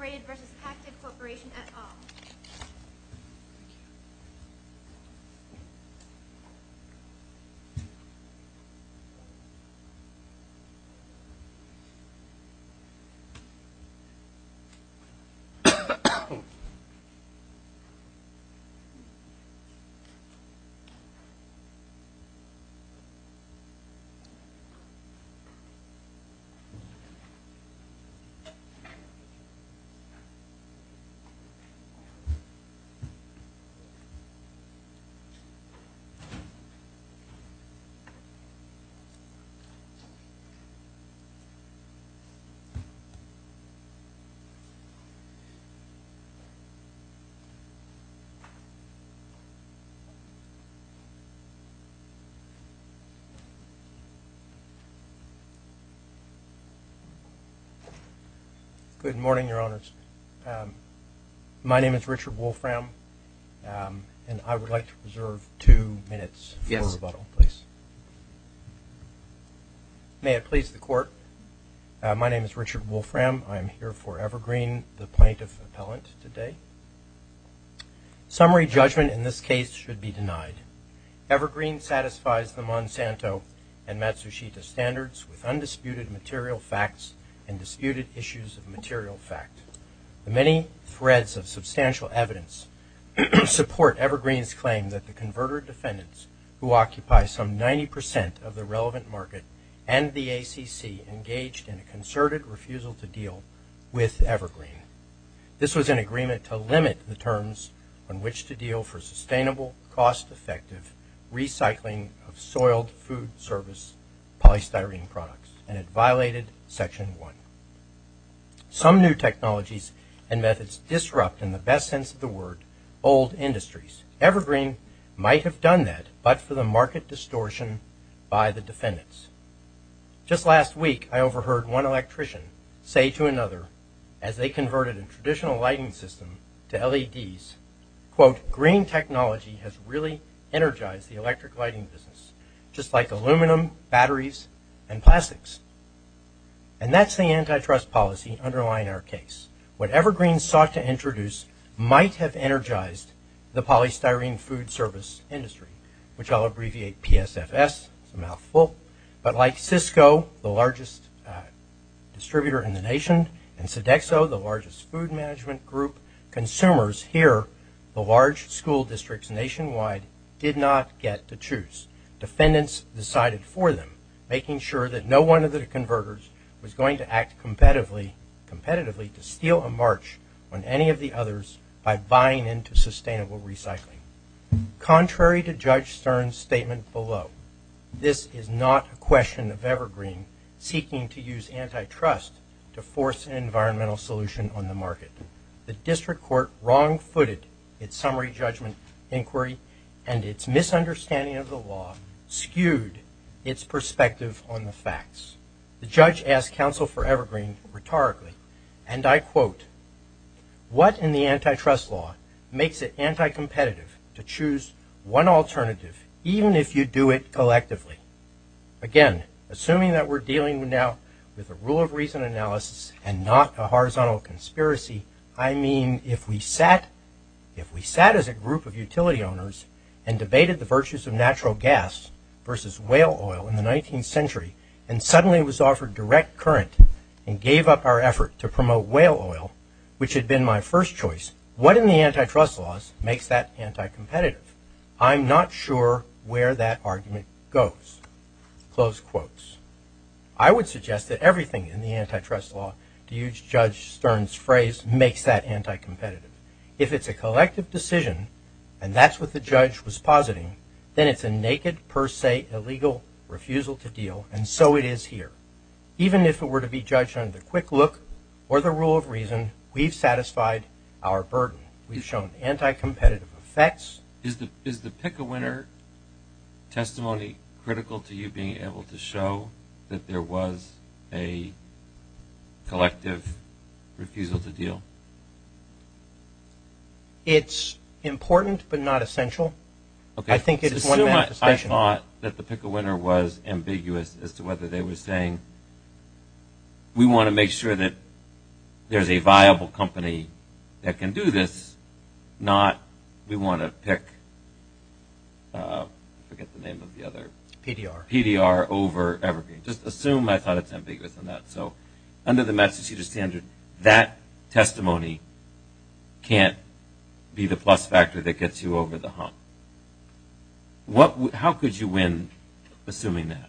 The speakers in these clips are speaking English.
v. Pactiv Corporation at all. My name is Richard Wolfram, and I would like to reserve two minutes for rebuttal, please. May it please the court, my name is Richard Wolfram. I am here for Evergreen, the plaintiff appellant today. Summary judgment in this case should be denied. Evergreen satisfies the Monsanto and Matsushita standards with undisputed material facts and disputed issues of material fact. The many threads of substantial evidence support Evergreen's claim that the converter defendants who occupy some 90% of the relevant market and the ACC engaged in a concerted refusal to deal with Evergreen. This was an agreement to limit the terms on which to deal for sustainable, cost-effective recycling of soiled food service polystyrene products, and it violated Section 1. Some new technologies and methods disrupt, in the best sense of the word, old industries. Evergreen might have done that, but for the market distortion by the defendants. Just last week, I overheard one electrician say to another, as they converted a traditional lighting system to LEDs, quote, green technology has really energized the electric lighting business, just like aluminum, batteries, and plastics. And that's the antitrust policy underlying our case. Whatever Green sought to introduce might have energized the polystyrene food service industry, which I'll abbreviate PSFS, it's a mouthful, but like Cisco, the largest distributor in the nation, and Sodexo, the largest food management group, consumers here, the large school districts nationwide, did not get to choose. Defendants decided for them, making sure that no one of the converters was going to act competitively to steal a march on any of the others by buying into sustainable recycling. Contrary to Judge Stern's statement below, this is not a question of Evergreen seeking to use antitrust to force an environmental solution on the market. The district court wrong-footed its summary judgment inquiry, and its misunderstanding of the law skewed its perspective on the facts. The judge asked counsel for Evergreen rhetorically, and I quote, what in the antitrust law makes it anticompetitive to choose one alternative, even if you do it collectively? Again, assuming that we're dealing now with a rule of reason analysis and not a horizontal conspiracy, I mean if we sat as a group of utility owners and debated the virtues of natural gas versus whale oil in the 19th century, and suddenly was offered direct current and gave up our effort to promote whale oil, which had been my first choice, what in the antitrust laws makes that anticompetitive? I'm not sure where that argument goes. Close quotes. I would suggest that everything in the antitrust law, to use Judge Stern's phrase, makes that anticompetitive. If it's a collective decision, and that's what the judge was positing, then it's a naked per se illegal refusal to deal, and so it is here. Even if it were to be judged under quick look or the rule of reason, we've satisfied our burden. We've shown anticompetitive effects. Is the pick-a-winner testimony critical to you being able to show that there was a collective refusal to deal? It's important but not essential. I think it's one manifestation. I thought that the pick-a-winner was ambiguous as to whether they were saying, we want to make sure that there's a viable company that can do this, not we want to pick, I forget the name of the other. PDR. PDR over Evergreen. Just assume I thought it's ambiguous on that. So under the Massachusetts standard, that testimony can't be the plus factor that gets you over the hump. How could you win assuming that?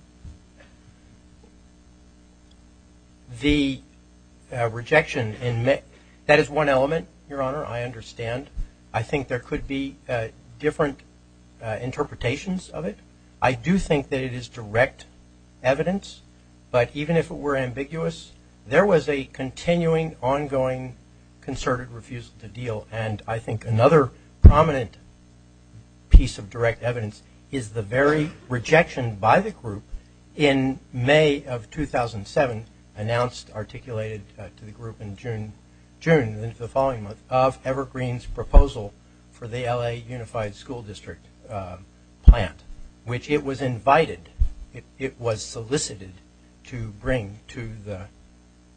The rejection, that is one element, Your Honor, I understand. I think there could be different interpretations of it. I do think that it is direct evidence, but even if it were ambiguous, there was a continuing ongoing concerted refusal to deal, and I think another prominent piece of direct evidence is the very rejection by the group in May of 2007, announced, articulated to the group in June, the following month, of Evergreen's proposal for the LA Unified School District plant, which it was invited, it was solicited to bring to the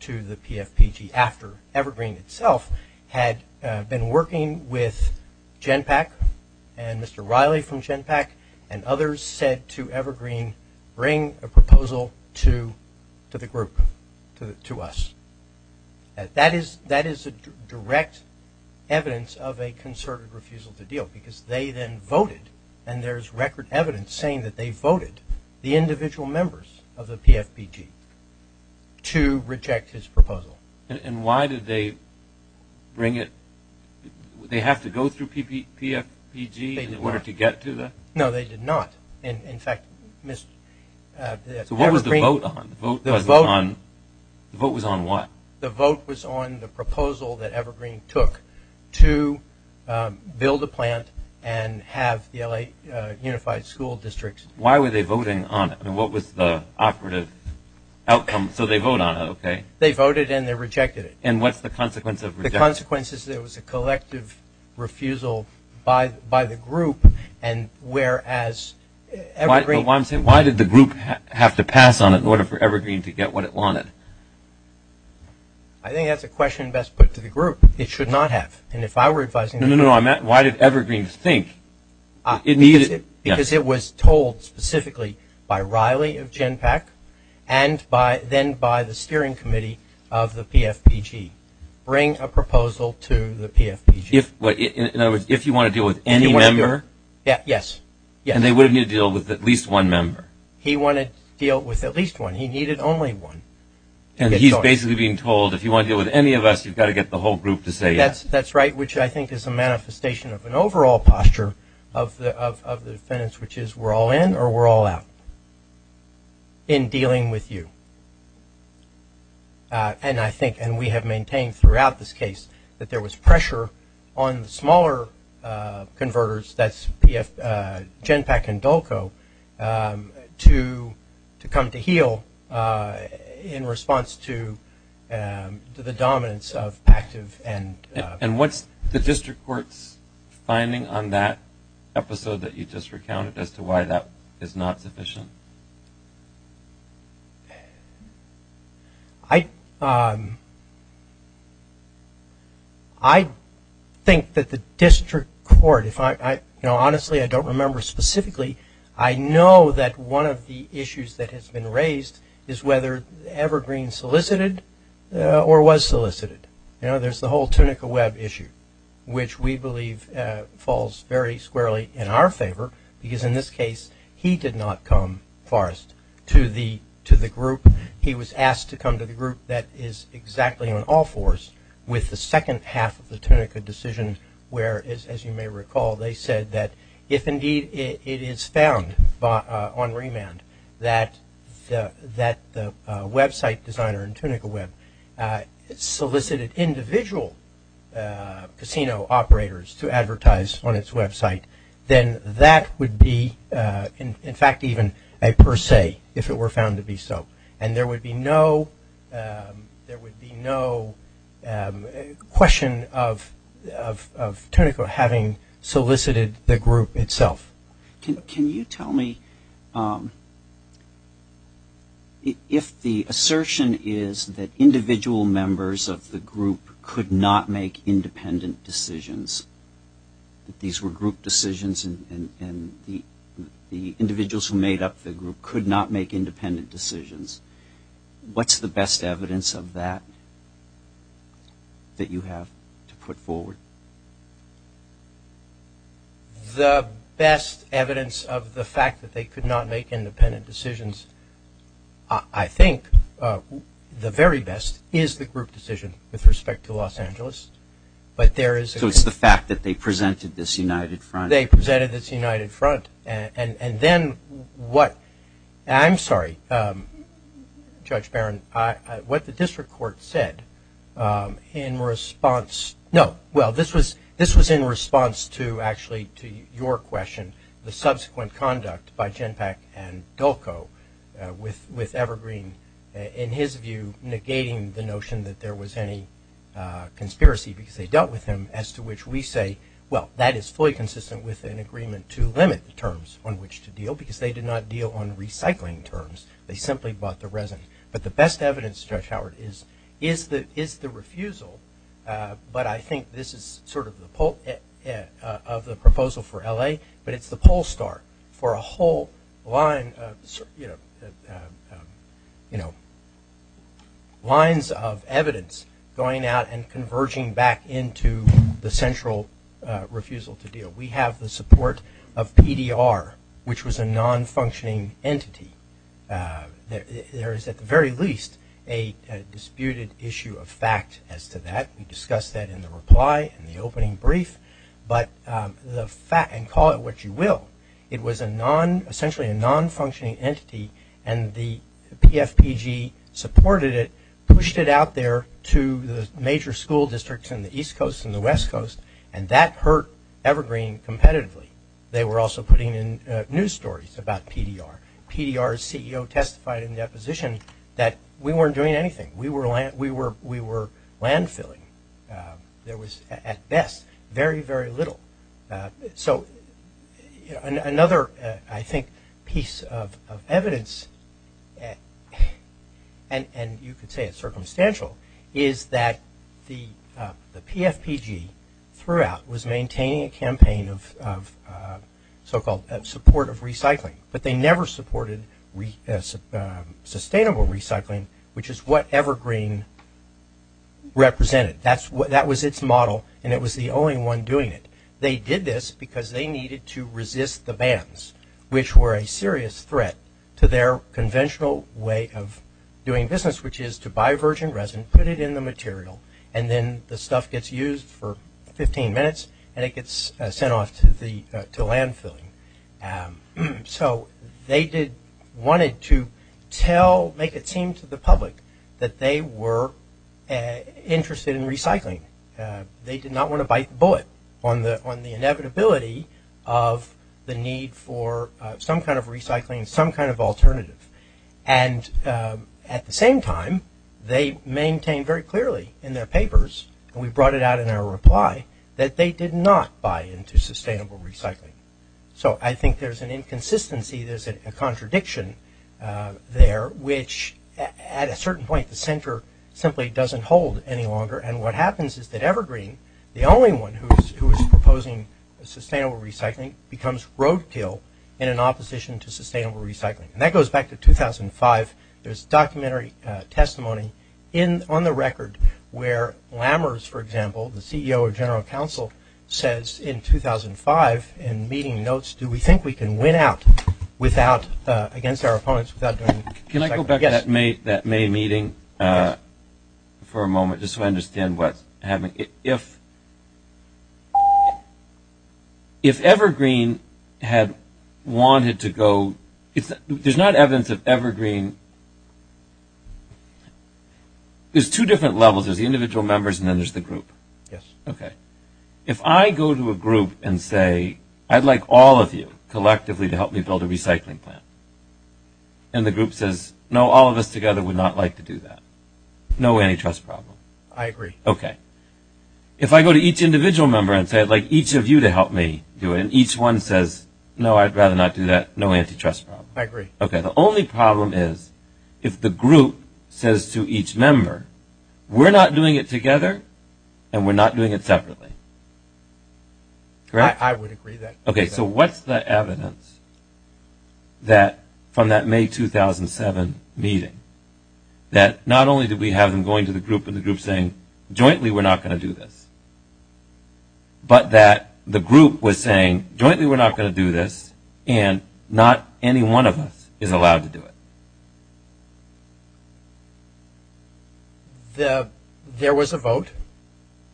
PFPG after Evergreen itself had been working with Genpak, and Mr. Riley from Genpak, and others said to Evergreen, bring a proposal to the group, to us. That is a direct evidence of a concerted refusal to deal, because they then voted, and there is record evidence saying that they voted the individual members of the PFPG to reject his proposal. And why did they bring it? They have to go through PFPG in order to get to the? No, they did not. In fact, Evergreen. So what was the vote on? The vote was on what? The vote was on the proposal that Evergreen took to build a plant and have the LA Unified School District. Why were they voting on it? I mean, what was the operative outcome? So they vote on it, okay. They voted and they rejected it. And what's the consequence of rejecting it? The consequence is there was a collective refusal by the group, and whereas Evergreen? Why did the group have to pass on it in order for Evergreen to get what it wanted? I think that's a question best put to the group. It should not have. And if I were advising? No, no, no. Why did Evergreen think it needed? Because it was told specifically by Riley of Genpak and then by the steering committee of the PFPG. Bring a proposal to the PFPG. In other words, if you want to deal with any member? Yes. And they would have needed to deal with at least one member. He wanted to deal with at least one. He needed only one. And he's basically being told, if you want to deal with any of us, you've got to get the whole group to say yes. That's right, which I think is a manifestation of an overall posture of the defendants, which is we're all in or we're all out in dealing with you. And I think, and we have maintained throughout this case, that there was pressure on the smaller converters, that's Genpak and Dulco, to come to heel in response to the dominance of active and. And what's the district court's finding on that episode that you just recounted as to why that is not sufficient? I think that the district court, if I, you know, honestly I don't remember specifically, I know that one of the issues that has been raised is whether Evergreen solicited or was solicited. You know, there's the whole Tunica Web issue, which we believe falls very squarely in our favor, because in this case he did not come first to the group. He was asked to come to the group that is exactly on all fours with the second half of the Tunica decision, where, as you may recall, they said that if indeed it is found on remand, that the website designer in Tunica Web solicited individual casino operators to advertise on its website, then that would be, in fact, even a per se, if it were found to be so. And there would be no question of Tunica having solicited the group itself. Can you tell me if the assertion is that individual members of the group could not make independent decisions, that these were group decisions and the individuals who made up the group could not make independent decisions, what's the best evidence of that that you have to put forward? The best evidence of the fact that they could not make independent decisions, I think the very best is the group decision with respect to Los Angeles. So it's the fact that they presented this united front? They presented this united front. And then what – I'm sorry, Judge Barron, what the district court said in response – no, well, this was in response to actually to your question, the subsequent conduct by Genpak and Delco with Evergreen, in his view negating the notion that there was any conspiracy because they dealt with him, as to which we say, well, that is fully consistent with an agreement to limit the terms on which to deal, because they did not deal on recycling terms. They simply bought the resin. But the best evidence, Judge Howard, is the refusal, but I think this is sort of the proposal for L.A., but it's the poll star for a whole line of evidence going out and converging back into the central refusal to deal. We have the support of PDR, which was a non-functioning entity. There is at the very least a disputed issue of fact as to that. We discussed that in the reply in the opening brief. But the fact – and call it what you will, it was a non – essentially a non-functioning entity, and the PFPG supported it, pushed it out there to the major school districts in the East Coast and the West Coast, and that hurt Evergreen competitively. They were also putting in news stories about PDR. PDR's CEO testified in that position that we weren't doing anything. We were landfilling. There was, at best, very, very little. So another, I think, piece of evidence, and you could say it's circumstantial, is that the PFPG throughout was maintaining a campaign of so-called support of recycling, but they never supported sustainable recycling, which is what Evergreen represented. That was its model, and it was the only one doing it. They did this because they needed to resist the bans, which were a serious threat to their conventional way of doing business, which is to buy virgin resin, put it in the material, and then the stuff gets used for 15 minutes, and it gets sent off to landfilling. So they wanted to tell – make it seem to the public that they were interested in recycling. They did not want to bite the bullet on the inevitability of the need for some kind of recycling, some kind of alternative. And at the same time, they maintained very clearly in their papers, and we brought it out in our reply, that they did not buy into sustainable recycling. So I think there's an inconsistency, there's a contradiction there, which at a certain point, the center simply doesn't hold any longer, and what happens is that Evergreen, the only one who is proposing sustainable recycling, becomes roadkill in an opposition to sustainable recycling. And that goes back to 2005. There's documentary testimony on the record where Lammers, for example, the CEO of General Counsel, says in 2005 in meeting notes, do we think we can win out against our opponents without doing – Can I go back to that May meeting for a moment just so I understand what's happening? If Evergreen had wanted to go – there's not evidence that Evergreen – there's two different levels, there's the individual members and then there's the group. Yes. Okay. If I go to a group and say, I'd like all of you collectively to help me build a recycling plant, and the group says, no, all of us together would not like to do that, no antitrust problem. I agree. Okay. If I go to each individual member and say, I'd like each of you to help me do it, and each one says, no, I'd rather not do that, no antitrust problem. I agree. Okay. The only problem is if the group says to each member, we're not doing it together and we're not doing it separately. Correct? I would agree with that. Okay. So what's the evidence from that May 2007 meeting that not only did we have them going to the group and the group saying, jointly we're not going to do this, but that the group was saying, jointly we're not going to do this and not any one of us is allowed to do it? There was a vote,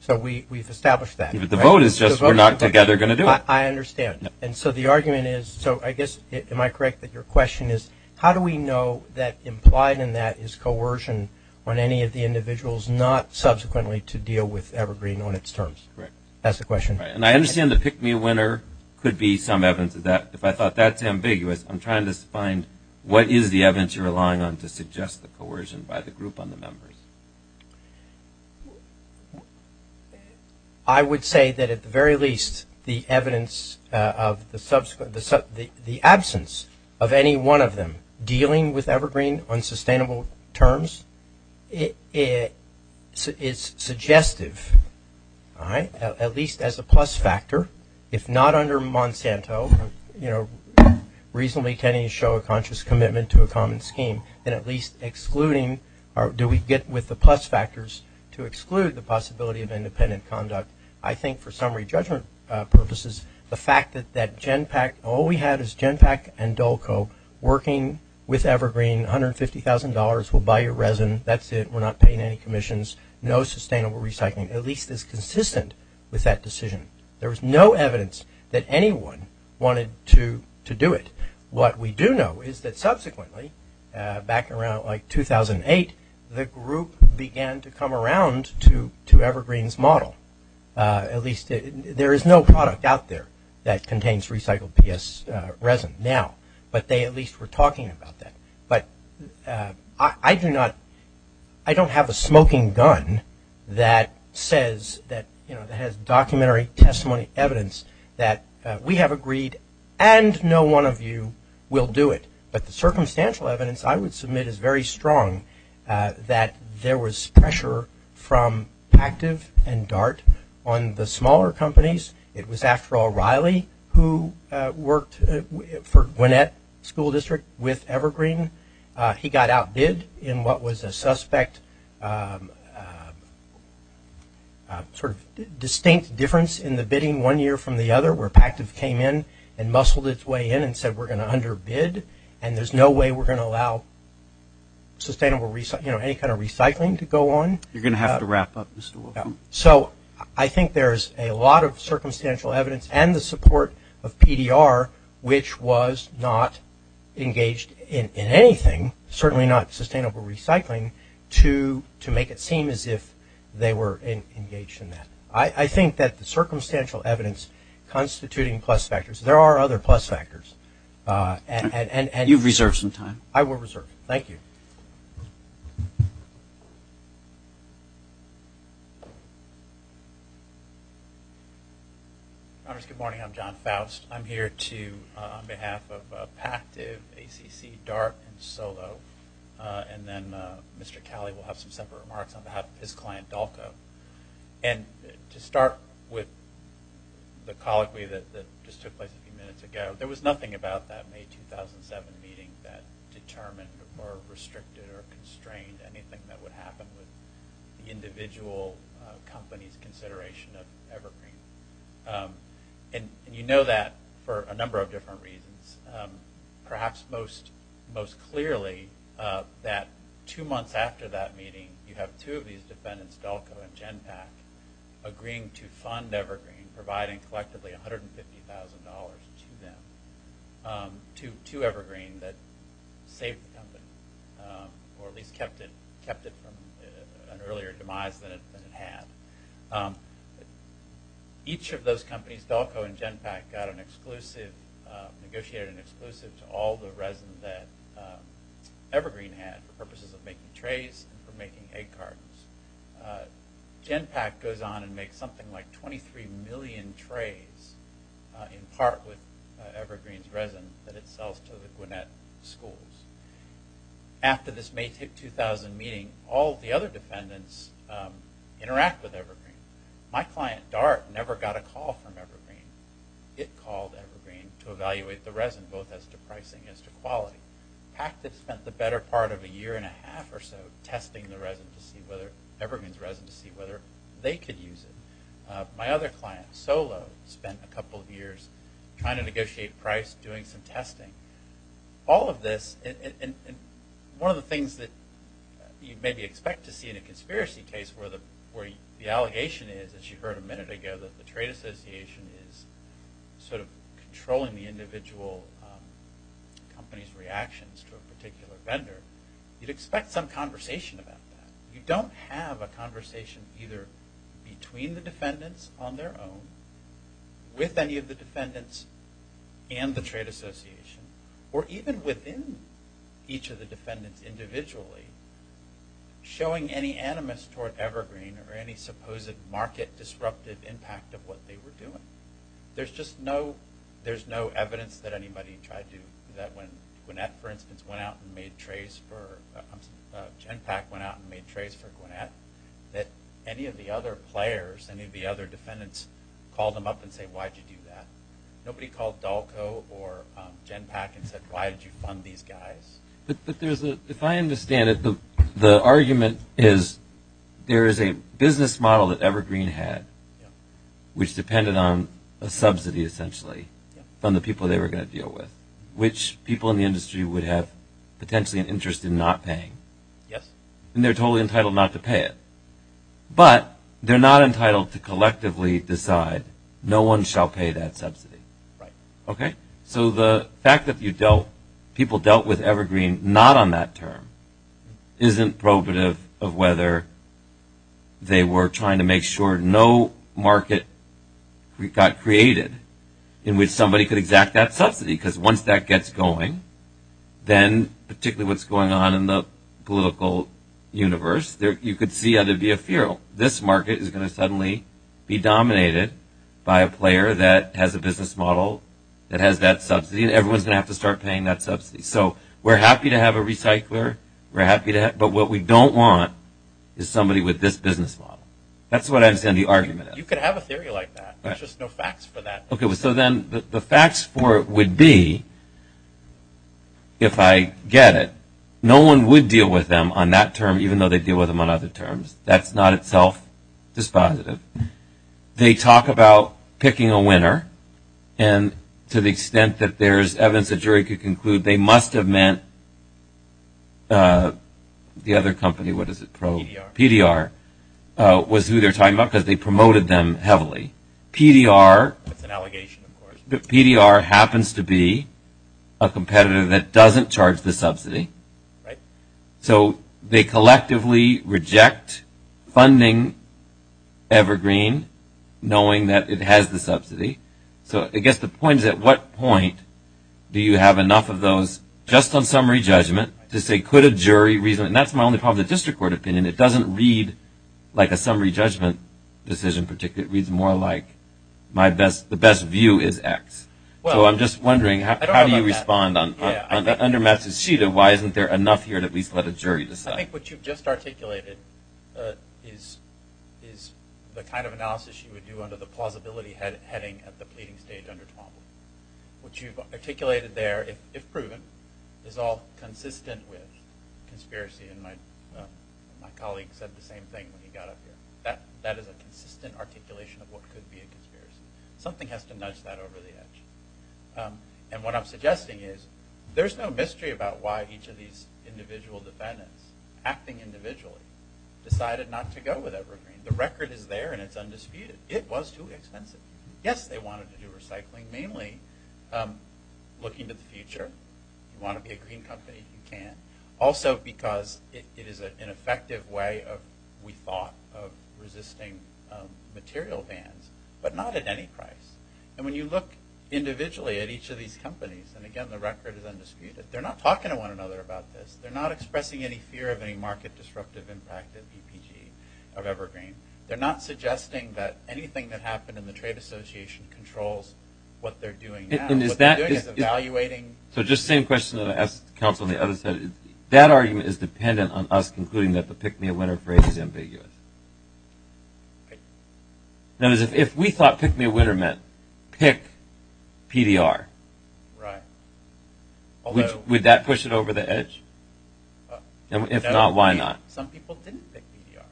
so we've established that. The vote is just we're not together going to do it. I understand. And so the argument is – so I guess, am I correct that your question is, how do we know that implied in that is coercion on any of the individuals, not subsequently to deal with Evergreen on its terms? Correct. That's the question. And I understand the pick-me-winner could be some evidence of that. If I thought that's ambiguous, I'm trying to find what is the evidence you're relying on to suggest the coercion by the group on the members? I would say that at the very least the evidence of the absence of any one of them dealing with Evergreen on sustainable terms is suggestive, at least as a plus factor. If not under Monsanto, reasonably can you show a conscious commitment to a common scheme, then at least excluding – or do we get with the plus factors to exclude the possibility of independent conduct? I think for summary judgment purposes, the fact that that Genpak – all we had is Genpak and Dolco working with Evergreen, $150,000, we'll buy your resin, that's it, we're not paying any commissions, no sustainable recycling, at least is consistent with that decision. There was no evidence that anyone wanted to do it. What we do know is that subsequently, back around like 2008, the group began to come around to Evergreen's model. At least there is no product out there that contains recycled PS resin now, but they at least were talking about that. But I do not – I don't have a smoking gun that says that – and no one of you will do it. But the circumstantial evidence I would submit is very strong that there was pressure from Pactiv and Dart on the smaller companies. It was, after all, Riley who worked for Gwinnett School District with Evergreen. He got outbid in what was a suspect sort of distinct difference in the bidding one year from the other where Pactiv came in and muscled its way in and said, we're going to underbid and there's no way we're going to allow sustainable – you know, any kind of recycling to go on. You're going to have to wrap up, Mr. Wilkman. So I think there's a lot of circumstantial evidence and the support of PDR, which was not engaged in anything, certainly not sustainable recycling, to make it seem as if they were engaged in that. I think that the circumstantial evidence constituting plus factors. There are other plus factors. You've reserved some time. I will reserve it. Thank you. Good morning. I'm John Faust. I'm here on behalf of Pactiv, ACC, Dart, and Solo. And then Mr. Calley will have some separate remarks on behalf of his client, Dalco. And to start with the colloquy that just took place a few minutes ago, there was nothing about that May 2007 meeting that determined or restricted or constrained anything that would happen with the individual company's consideration of Evergreen. And you know that for a number of different reasons. Perhaps most clearly that two months after that meeting, you have two of these defendants, Dalco and Genpact, agreeing to fund Evergreen, providing collectively $150,000 to Evergreen that saved the company or at least kept it from an earlier demise than it had. Each of those companies, Dalco and Genpact, got an exclusive, negotiated an exclusive to all the resin that Evergreen had for purposes of making trays and for making egg cartons. Genpact goes on and makes something like 23 million trays in part with Evergreen's resin that it sells to the Gwinnett schools. After this May 2000 meeting, all the other defendants interact with Evergreen. My client, Dart, never got a call from Evergreen. It called Evergreen to evaluate the resin both as to pricing as to quality. Pact had spent the better part of a year and a half or so testing the resin to see whether Evergreen's resin to see whether they could use it. My other client, Solo, spent a couple of years trying to negotiate price, doing some testing. All of this, and one of the things that you'd maybe expect to see in a conspiracy case where the allegation is, as you heard a minute ago, that the trade association is sort of controlling the individual company's reactions to a particular vendor, you'd expect some conversation about that. You don't have a conversation either between the defendants on their own, with any of the defendants, and the trade association, or even within each of the defendants individually, showing any animus toward Evergreen or any supposed market disruptive impact of what they were doing. There's just no evidence that anybody tried to do that when Gwinnett, for instance, went out and made trays for, Genpact went out and made trays for Gwinnett, that any of the other players, any of the other defendants, called them up and said, why did you do that? Nobody called Dalco or Genpact and said, why did you fund these guys? But if I understand it, the argument is there is a business model that Evergreen had, which depended on a subsidy, essentially, from the people they were going to deal with, which people in the industry would have potentially an interest in not paying. Yes. And they're totally entitled not to pay it. But they're not entitled to collectively decide, no one shall pay that subsidy. Right. Okay? So the fact that you dealt, people dealt with Evergreen not on that term, isn't probative of whether they were trying to make sure no market got created in which somebody could exact that subsidy, because once that gets going, then particularly what's going on in the political universe, you could see how there'd be a fear. This market is going to suddenly be dominated by a player that has a business model, that has that subsidy, and everyone's going to have to start paying that subsidy. So we're happy to have a recycler, we're happy to have, but what we don't want is somebody with this business model. That's what I understand the argument is. You could have a theory like that. There's just no facts for that. Okay. So then the facts for it would be, if I get it, no one would deal with them on that term, even though they'd deal with them on other terms. That's not itself dispositive. They talk about picking a winner, and to the extent that there's evidence a jury could conclude they must have meant the other company, what is it, Pro? PDR. PDR was who they're talking about because they promoted them heavily. That's an allegation, of course. PDR happens to be a competitor that doesn't charge the subsidy. Right. So they collectively reject funding Evergreen knowing that it has the subsidy. So I guess the point is, at what point do you have enough of those just on summary judgment to say, could a jury reason it? And that's my only problem with the district court opinion. It doesn't read like a summary judgment decision. It reads more like the best view is X. So I'm just wondering, how do you respond? Under Matsushita, why isn't there enough here to at least let a jury decide? I think what you've just articulated is the kind of analysis you would do under the plausibility heading at the pleading stage under Twombly. What you've articulated there, if proven, is all consistent with conspiracy. And my colleague said the same thing when he got up here. That is a consistent articulation of what could be a conspiracy. Something has to nudge that over the edge. And what I'm suggesting is, there's no mystery about why each of these individual defendants, acting individually, decided not to go with Evergreen. The record is there and it's undisputed. It was too expensive. Yes, they wanted to do recycling. Mainly looking to the future. You want to be a green company, you can. Also because it is an effective way, we thought, of resisting material bans. But not at any price. And when you look individually at each of these companies, and again the record is undisputed, they're not talking to one another about this. They're not expressing any fear of any market disruptive impact of EPG, of Evergreen. They're not suggesting that anything that happened in the trade association controls what they're doing now. What they're doing is evaluating. So just the same question that I asked the counsel on the other side. That argument is dependent on us concluding that the pick-me-a-winner phrase is ambiguous. If we thought pick-me-a-winner meant pick PDR, would that push it over the edge? If not, why not? Some people didn't pick PDR.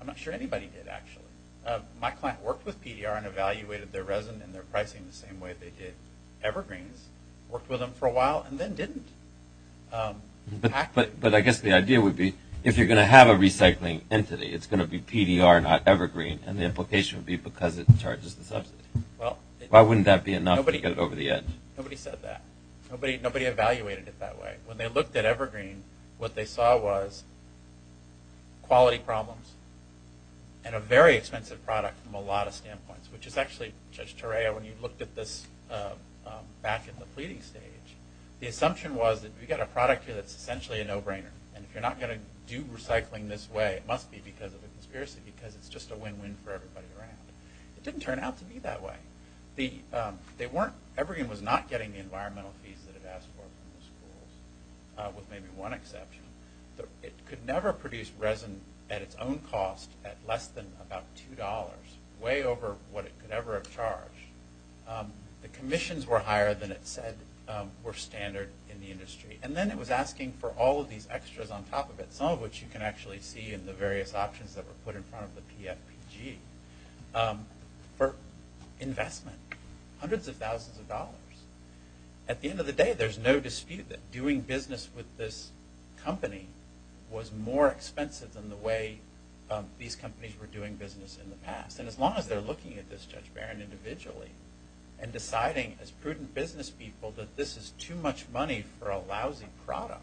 I'm not sure anybody did, actually. My client worked with PDR and evaluated their resin and their pricing the same way they did Evergreen's. Worked with them for a while and then didn't. But I guess the idea would be if you're going to have a recycling entity, it's going to be PDR, not Evergreen. And the implication would be because it charges the subsidy. Why wouldn't that be enough to get it over the edge? Nobody said that. Nobody evaluated it that way. When they looked at Evergreen, what they saw was quality problems and a very expensive product from a lot of standpoints. Which is actually, Judge Torreo, when you looked at this back in the pleading stage, the assumption was that we've got a product here that's essentially a no-brainer. And if you're not going to do recycling this way, it must be because of a conspiracy because it's just a win-win for everybody around. It didn't turn out to be that way. Evergreen was not getting the environmental fees that it asked for from the schools, with maybe one exception. It could never produce resin at its own cost at less than about $2, way over what it could ever have charged. The commissions were higher than it said were standard in the industry. And then it was asking for all of these extras on top of it, some of which you can actually see in the various options that were put in front of the PFPG, for investment, hundreds of thousands of dollars. At the end of the day, there's no dispute that doing business with this company was more expensive than the way these companies were doing business in the past. And as long as they're looking at this, Judge Barron, individually, and deciding as prudent business people that this is too much money for a lousy product,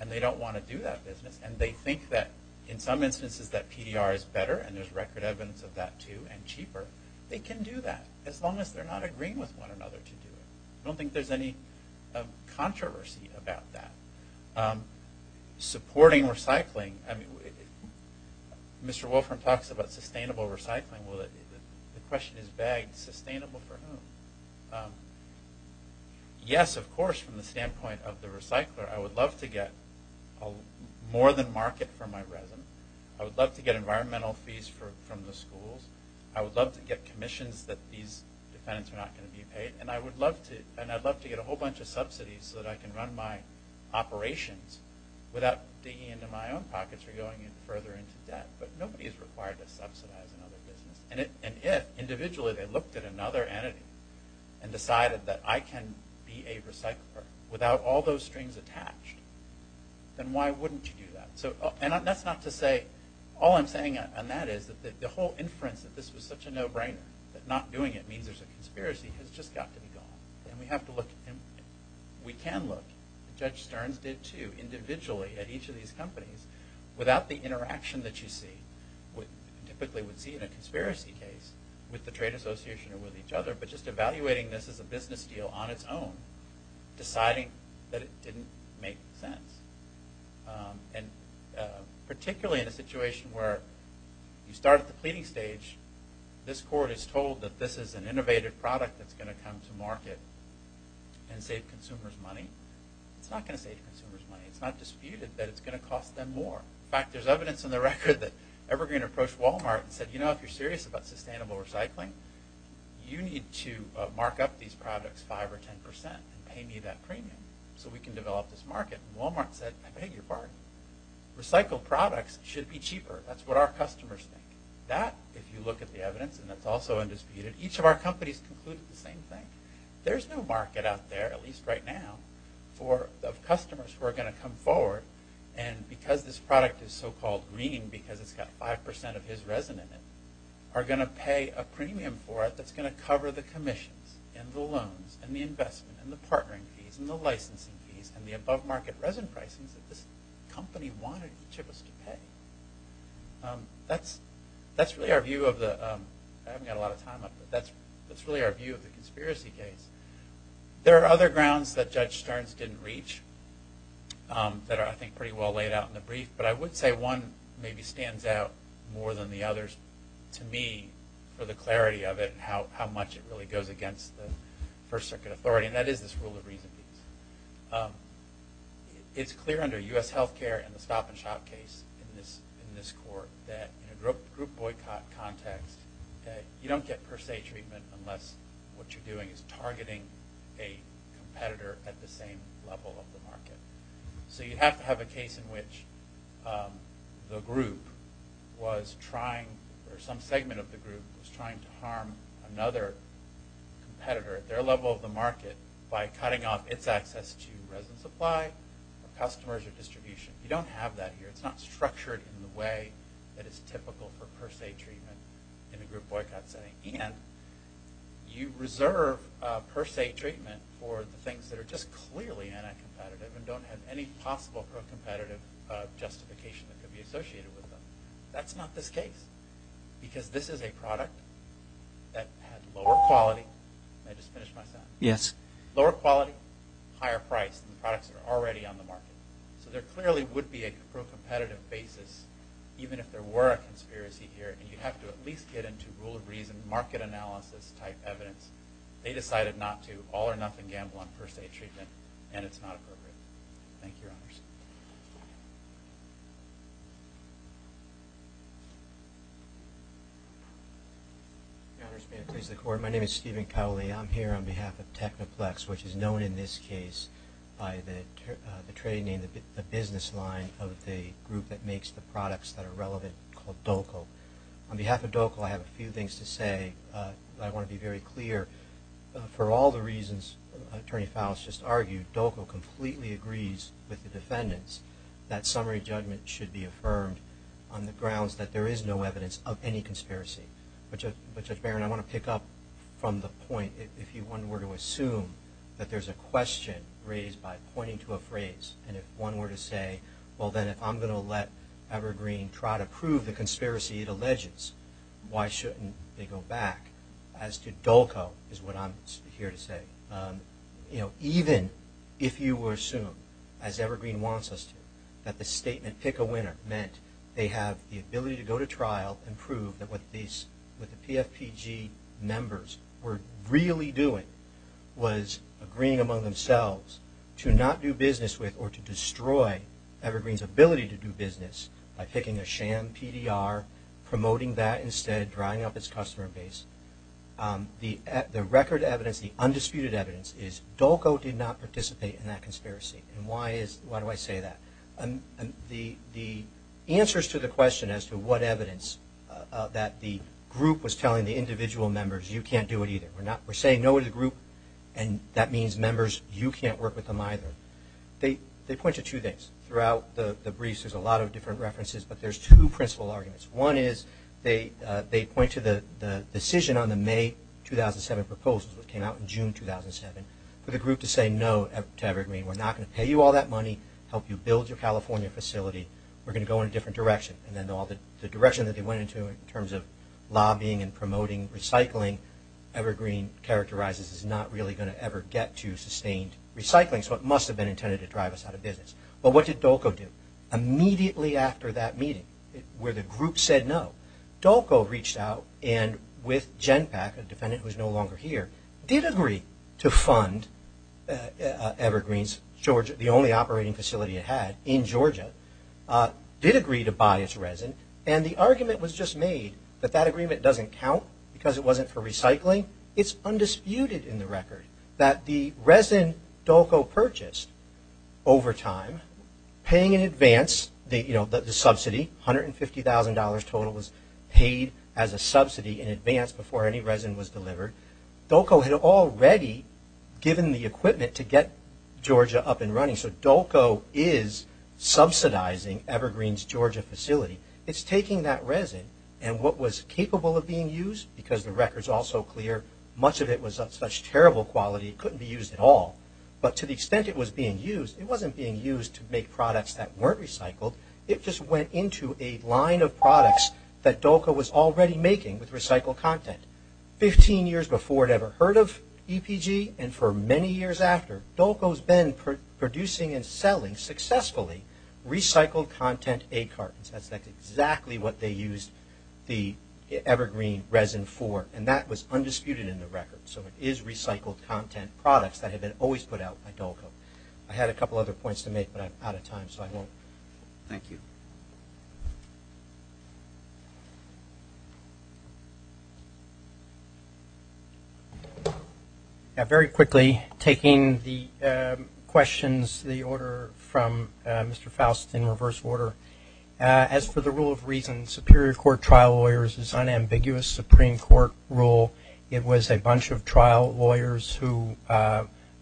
and they don't want to do that business, and they think that in some instances that PDR is better, and there's record evidence of that too, and cheaper, they can do that as long as they're not agreeing with one another to do it. I don't think there's any controversy about that. Supporting recycling. Mr. Wolfram talks about sustainable recycling. The question is begged, sustainable for whom? Yes, of course, from the standpoint of the recycler, I would love to get more than market for my resin. I would love to get environmental fees from the schools. I would love to get commissions that these defendants are not going to be paid. And I'd love to get a whole bunch of subsidies so that I can run my operations without digging into my own pockets or going further into debt. But nobody is required to subsidize another business. And yet, individually, they looked at another entity and decided that I can be a recycler without all those strings attached. Then why wouldn't you do that? And that's not to say, all I'm saying on that is, that the whole inference that this was such a no-brainer, that not doing it means there's a conspiracy, has just got to be gone. And we have to look, and we can look, Judge Stearns did too, individually at each of these companies, without the interaction that you see, typically would see in a conspiracy case, with the trade association or with each other, but just evaluating this as a business deal on its own, deciding that it didn't make sense. And particularly in a situation where you start at the pleading stage, this court is told that this is an innovative product that's going to come to market and save consumers money. It's not going to save consumers money. It's not disputed that it's going to cost them more. In fact, there's evidence in the record that Evergreen approached Walmart and said, you know, if you're serious about sustainable recycling, you need to mark up these products 5 or 10 percent and pay me that premium so we can develop this market. And Walmart said, I beg your pardon. Recycled products should be cheaper. That's what our customers think. That, if you look at the evidence, and that's also undisputed, each of our companies concluded the same thing. There's no market out there, at least right now, of customers who are going to come forward, and because this product is so-called green, because it's got 5 percent of his resin in it, are going to pay a premium for it that's going to cover the commissions and the loans and the investment and the partnering fees and the licensing fees and the above-market resin pricings that this company wanted each of us to pay. That's really our view of the conspiracy case. There are other grounds that Judge Stearns didn't reach that are, I think, pretty well laid out in the brief, but I would say one maybe stands out more than the others. To me, for the clarity of it, how much it really goes against the First Circuit authority, and that is this rule of reason. It's clear under U.S. health care and the stop-and-shot case in this court that in a group boycott context, you don't get per se treatment unless what you're doing is targeting a competitor at the same level of the market. You have to have a case in which the group was trying, or some segment of the group was trying to harm another competitor at their level of the market by cutting off its access to resin supply, customers, or distribution. You don't have that here. It's not structured in the way that is typical for per se treatment in a group boycott setting. You reserve per se treatment for the things that are just clearly anti-competitive and don't have any possible pro-competitive justification that could be associated with them. That's not this case because this is a product that had lower quality. Did I just finish my sentence? Lower quality, higher price than products that are already on the market. So there clearly would be a pro-competitive basis even if there were a conspiracy here, and you'd have to at least get into rule of reason, market analysis-type evidence. They decided not to, all or nothing, gamble on per se treatment, and it's not appropriate. Thank you, Your Honors. Your Honors, may I please the court? My name is Stephen Cowley. I'm here on behalf of Technoplex, which is known in this case by the trading name, the business line of the group that makes the products that are relevant called Dolkel. On behalf of Dolkel, I have a few things to say. I want to be very clear. For all the reasons Attorney Faust just argued, Dolkel completely agrees with the defendants that summary judgment should be affirmed on the grounds that there is no evidence of any conspiracy. But, Judge Barron, I want to pick up from the point. If one were to assume that there's a question raised by pointing to a phrase, and if one were to say, well, then, if I'm going to let Evergreen try to prove the conspiracy it alleges, why shouldn't they go back? As to Dolkel is what I'm here to say. Even if you were to assume, as Evergreen wants us to, that the statement, pick a winner, meant they have the ability to go to trial and prove that what the PFPG members were really doing was agreeing among themselves to not do business with or to destroy Evergreen's ability to do business by picking a sham PDR, promoting that instead, drying up its customer base. The record evidence, the undisputed evidence, is Dolkel did not participate in that conspiracy. And why do I say that? The answers to the question as to what evidence, that the group was telling the individual members, you can't do it either. We're saying no to the group, and that means members, you can't work with them either. They point to two things. Throughout the briefs, there's a lot of different references, but there's two principal arguments. One is they point to the decision on the May 2007 proposals, which came out in June 2007, for the group to say no to Evergreen. We're not going to pay you all that money, help you build your California facility. We're going to go in a different direction. And then all the direction that they went into in terms of lobbying and promoting recycling, Evergreen characterizes as not really going to ever get to sustained recycling, so it must have been intended to drive us out of business. But what did DOLCO do? Immediately after that meeting, where the group said no, DOLCO reached out, and with Genpak, a defendant who is no longer here, did agree to fund Evergreen's Georgia, the only operating facility it had in Georgia, did agree to buy its resin. And the argument was just made that that agreement doesn't count because it wasn't for recycling. It's undisputed in the record that the resin DOLCO purchased over time, paying in advance the subsidy, $150,000 total was paid as a subsidy in advance before any resin was delivered. DOLCO had already given the equipment to get Georgia up and running, so DOLCO is subsidizing Evergreen's Georgia facility. It's taking that resin, and what was capable of being used, because the record's all so clear, much of it was of such terrible quality it couldn't be used at all, but to the extent it was being used, it wasn't being used to make products that weren't recycled. It just went into a line of products that DOLCO was already making with recycled content. Fifteen years before it ever heard of EPG, and for many years after, DOLCO's been producing and selling successfully recycled content egg cartons. That's exactly what they used the Evergreen resin for, and that was undisputed in the record. So it is recycled content products that have been always put out by DOLCO. I had a couple other points to make, but I'm out of time, so I won't. Thank you. Very quickly, taking the questions, the order from Mr. Faust in reverse order. As for the rule of reason, Superior Court trial lawyers' unambiguous Supreme Court rule, it was a bunch of trial lawyers who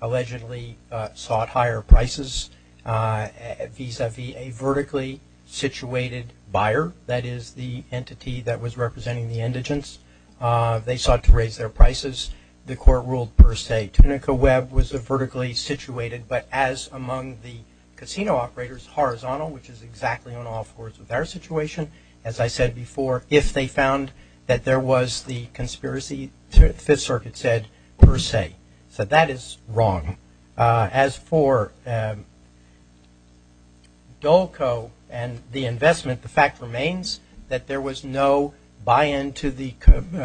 allegedly sought higher prices vis-a-vis a vertically situated buyer, that is the entity that was representing the indigents. They sought to raise their prices. The court ruled per se. Tunica Webb was a vertically situated, but as among the casino operators, horizontal, which is exactly on all fours with our situation, as I said before, if they found that there was the conspiracy, the Fifth Circuit said per se. So that is wrong. As for DOLCO and the investment, the fact remains that there was no buy-in to the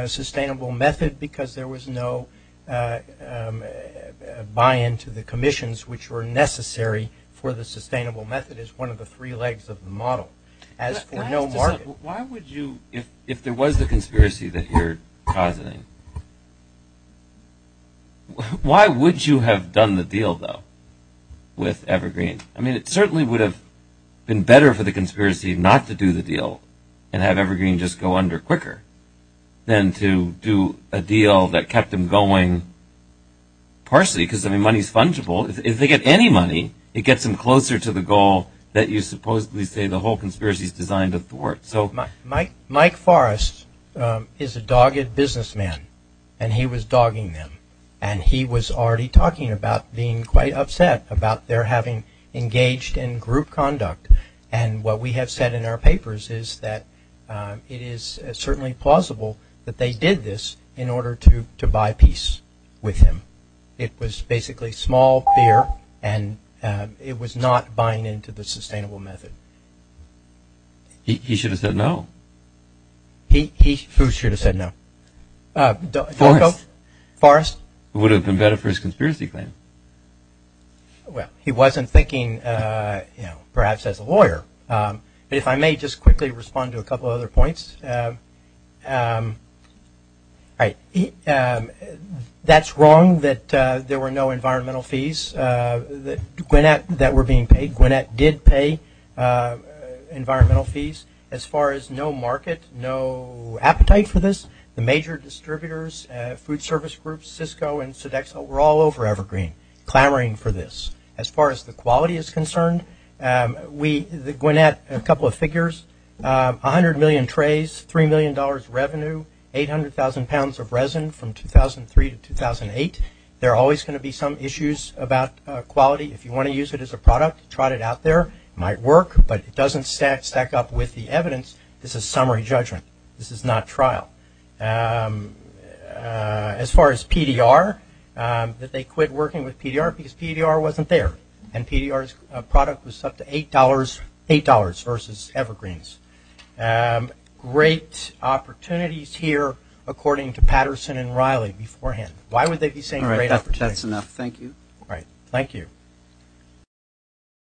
sustainable method because there was no buy-in to the commissions which were necessary for the sustainable method as one of the three legs of the model. Why would you, if there was the conspiracy that you're causing, why would you have done the deal, though, with Evergreen? I mean, it certainly would have been better for the conspiracy not to do the deal and have Evergreen just go under quicker than to do a deal that kept them going partially because, I mean, money is fungible. If they get any money, it gets them closer to the goal that you supposedly say the whole conspiracy is designed to thwart. Mike Forrest is a dogged businessman and he was dogging them and he was already talking about being quite upset about their having engaged in group conduct and what we have said in our papers is that it is certainly plausible that they did this in order to buy peace with him. It was basically small fear and it was not buying into the sustainable method. He should have said no. Who should have said no? Forrest. Forrest? Who would have been better for his conspiracy claim? Well, he wasn't thinking, you know, perhaps as a lawyer. If I may just quickly respond to a couple of other points. That's wrong that there were no environmental fees that were being paid. Gwinnett did pay environmental fees. As far as no market, no appetite for this, the major distributors, food service groups, Cisco and Sodexo were all over Evergreen clamoring for this. As far as the quality is concerned, Gwinnett, a couple of figures, 100 million trays, $3 million revenue, 800,000 pounds of resin from 2003 to 2008. There are always going to be some issues about quality. If you want to use it as a product, trot it out there. It might work, but it doesn't stack up with the evidence. This is summary judgment. This is not trial. As far as PDR, that they quit working with PDR because PDR wasn't there and PDR's product was up to $8 versus Evergreen's. Great opportunities here according to Patterson and Riley beforehand. Why would they be saying great opportunities? All right, that's enough. Thank you. All right, thank you.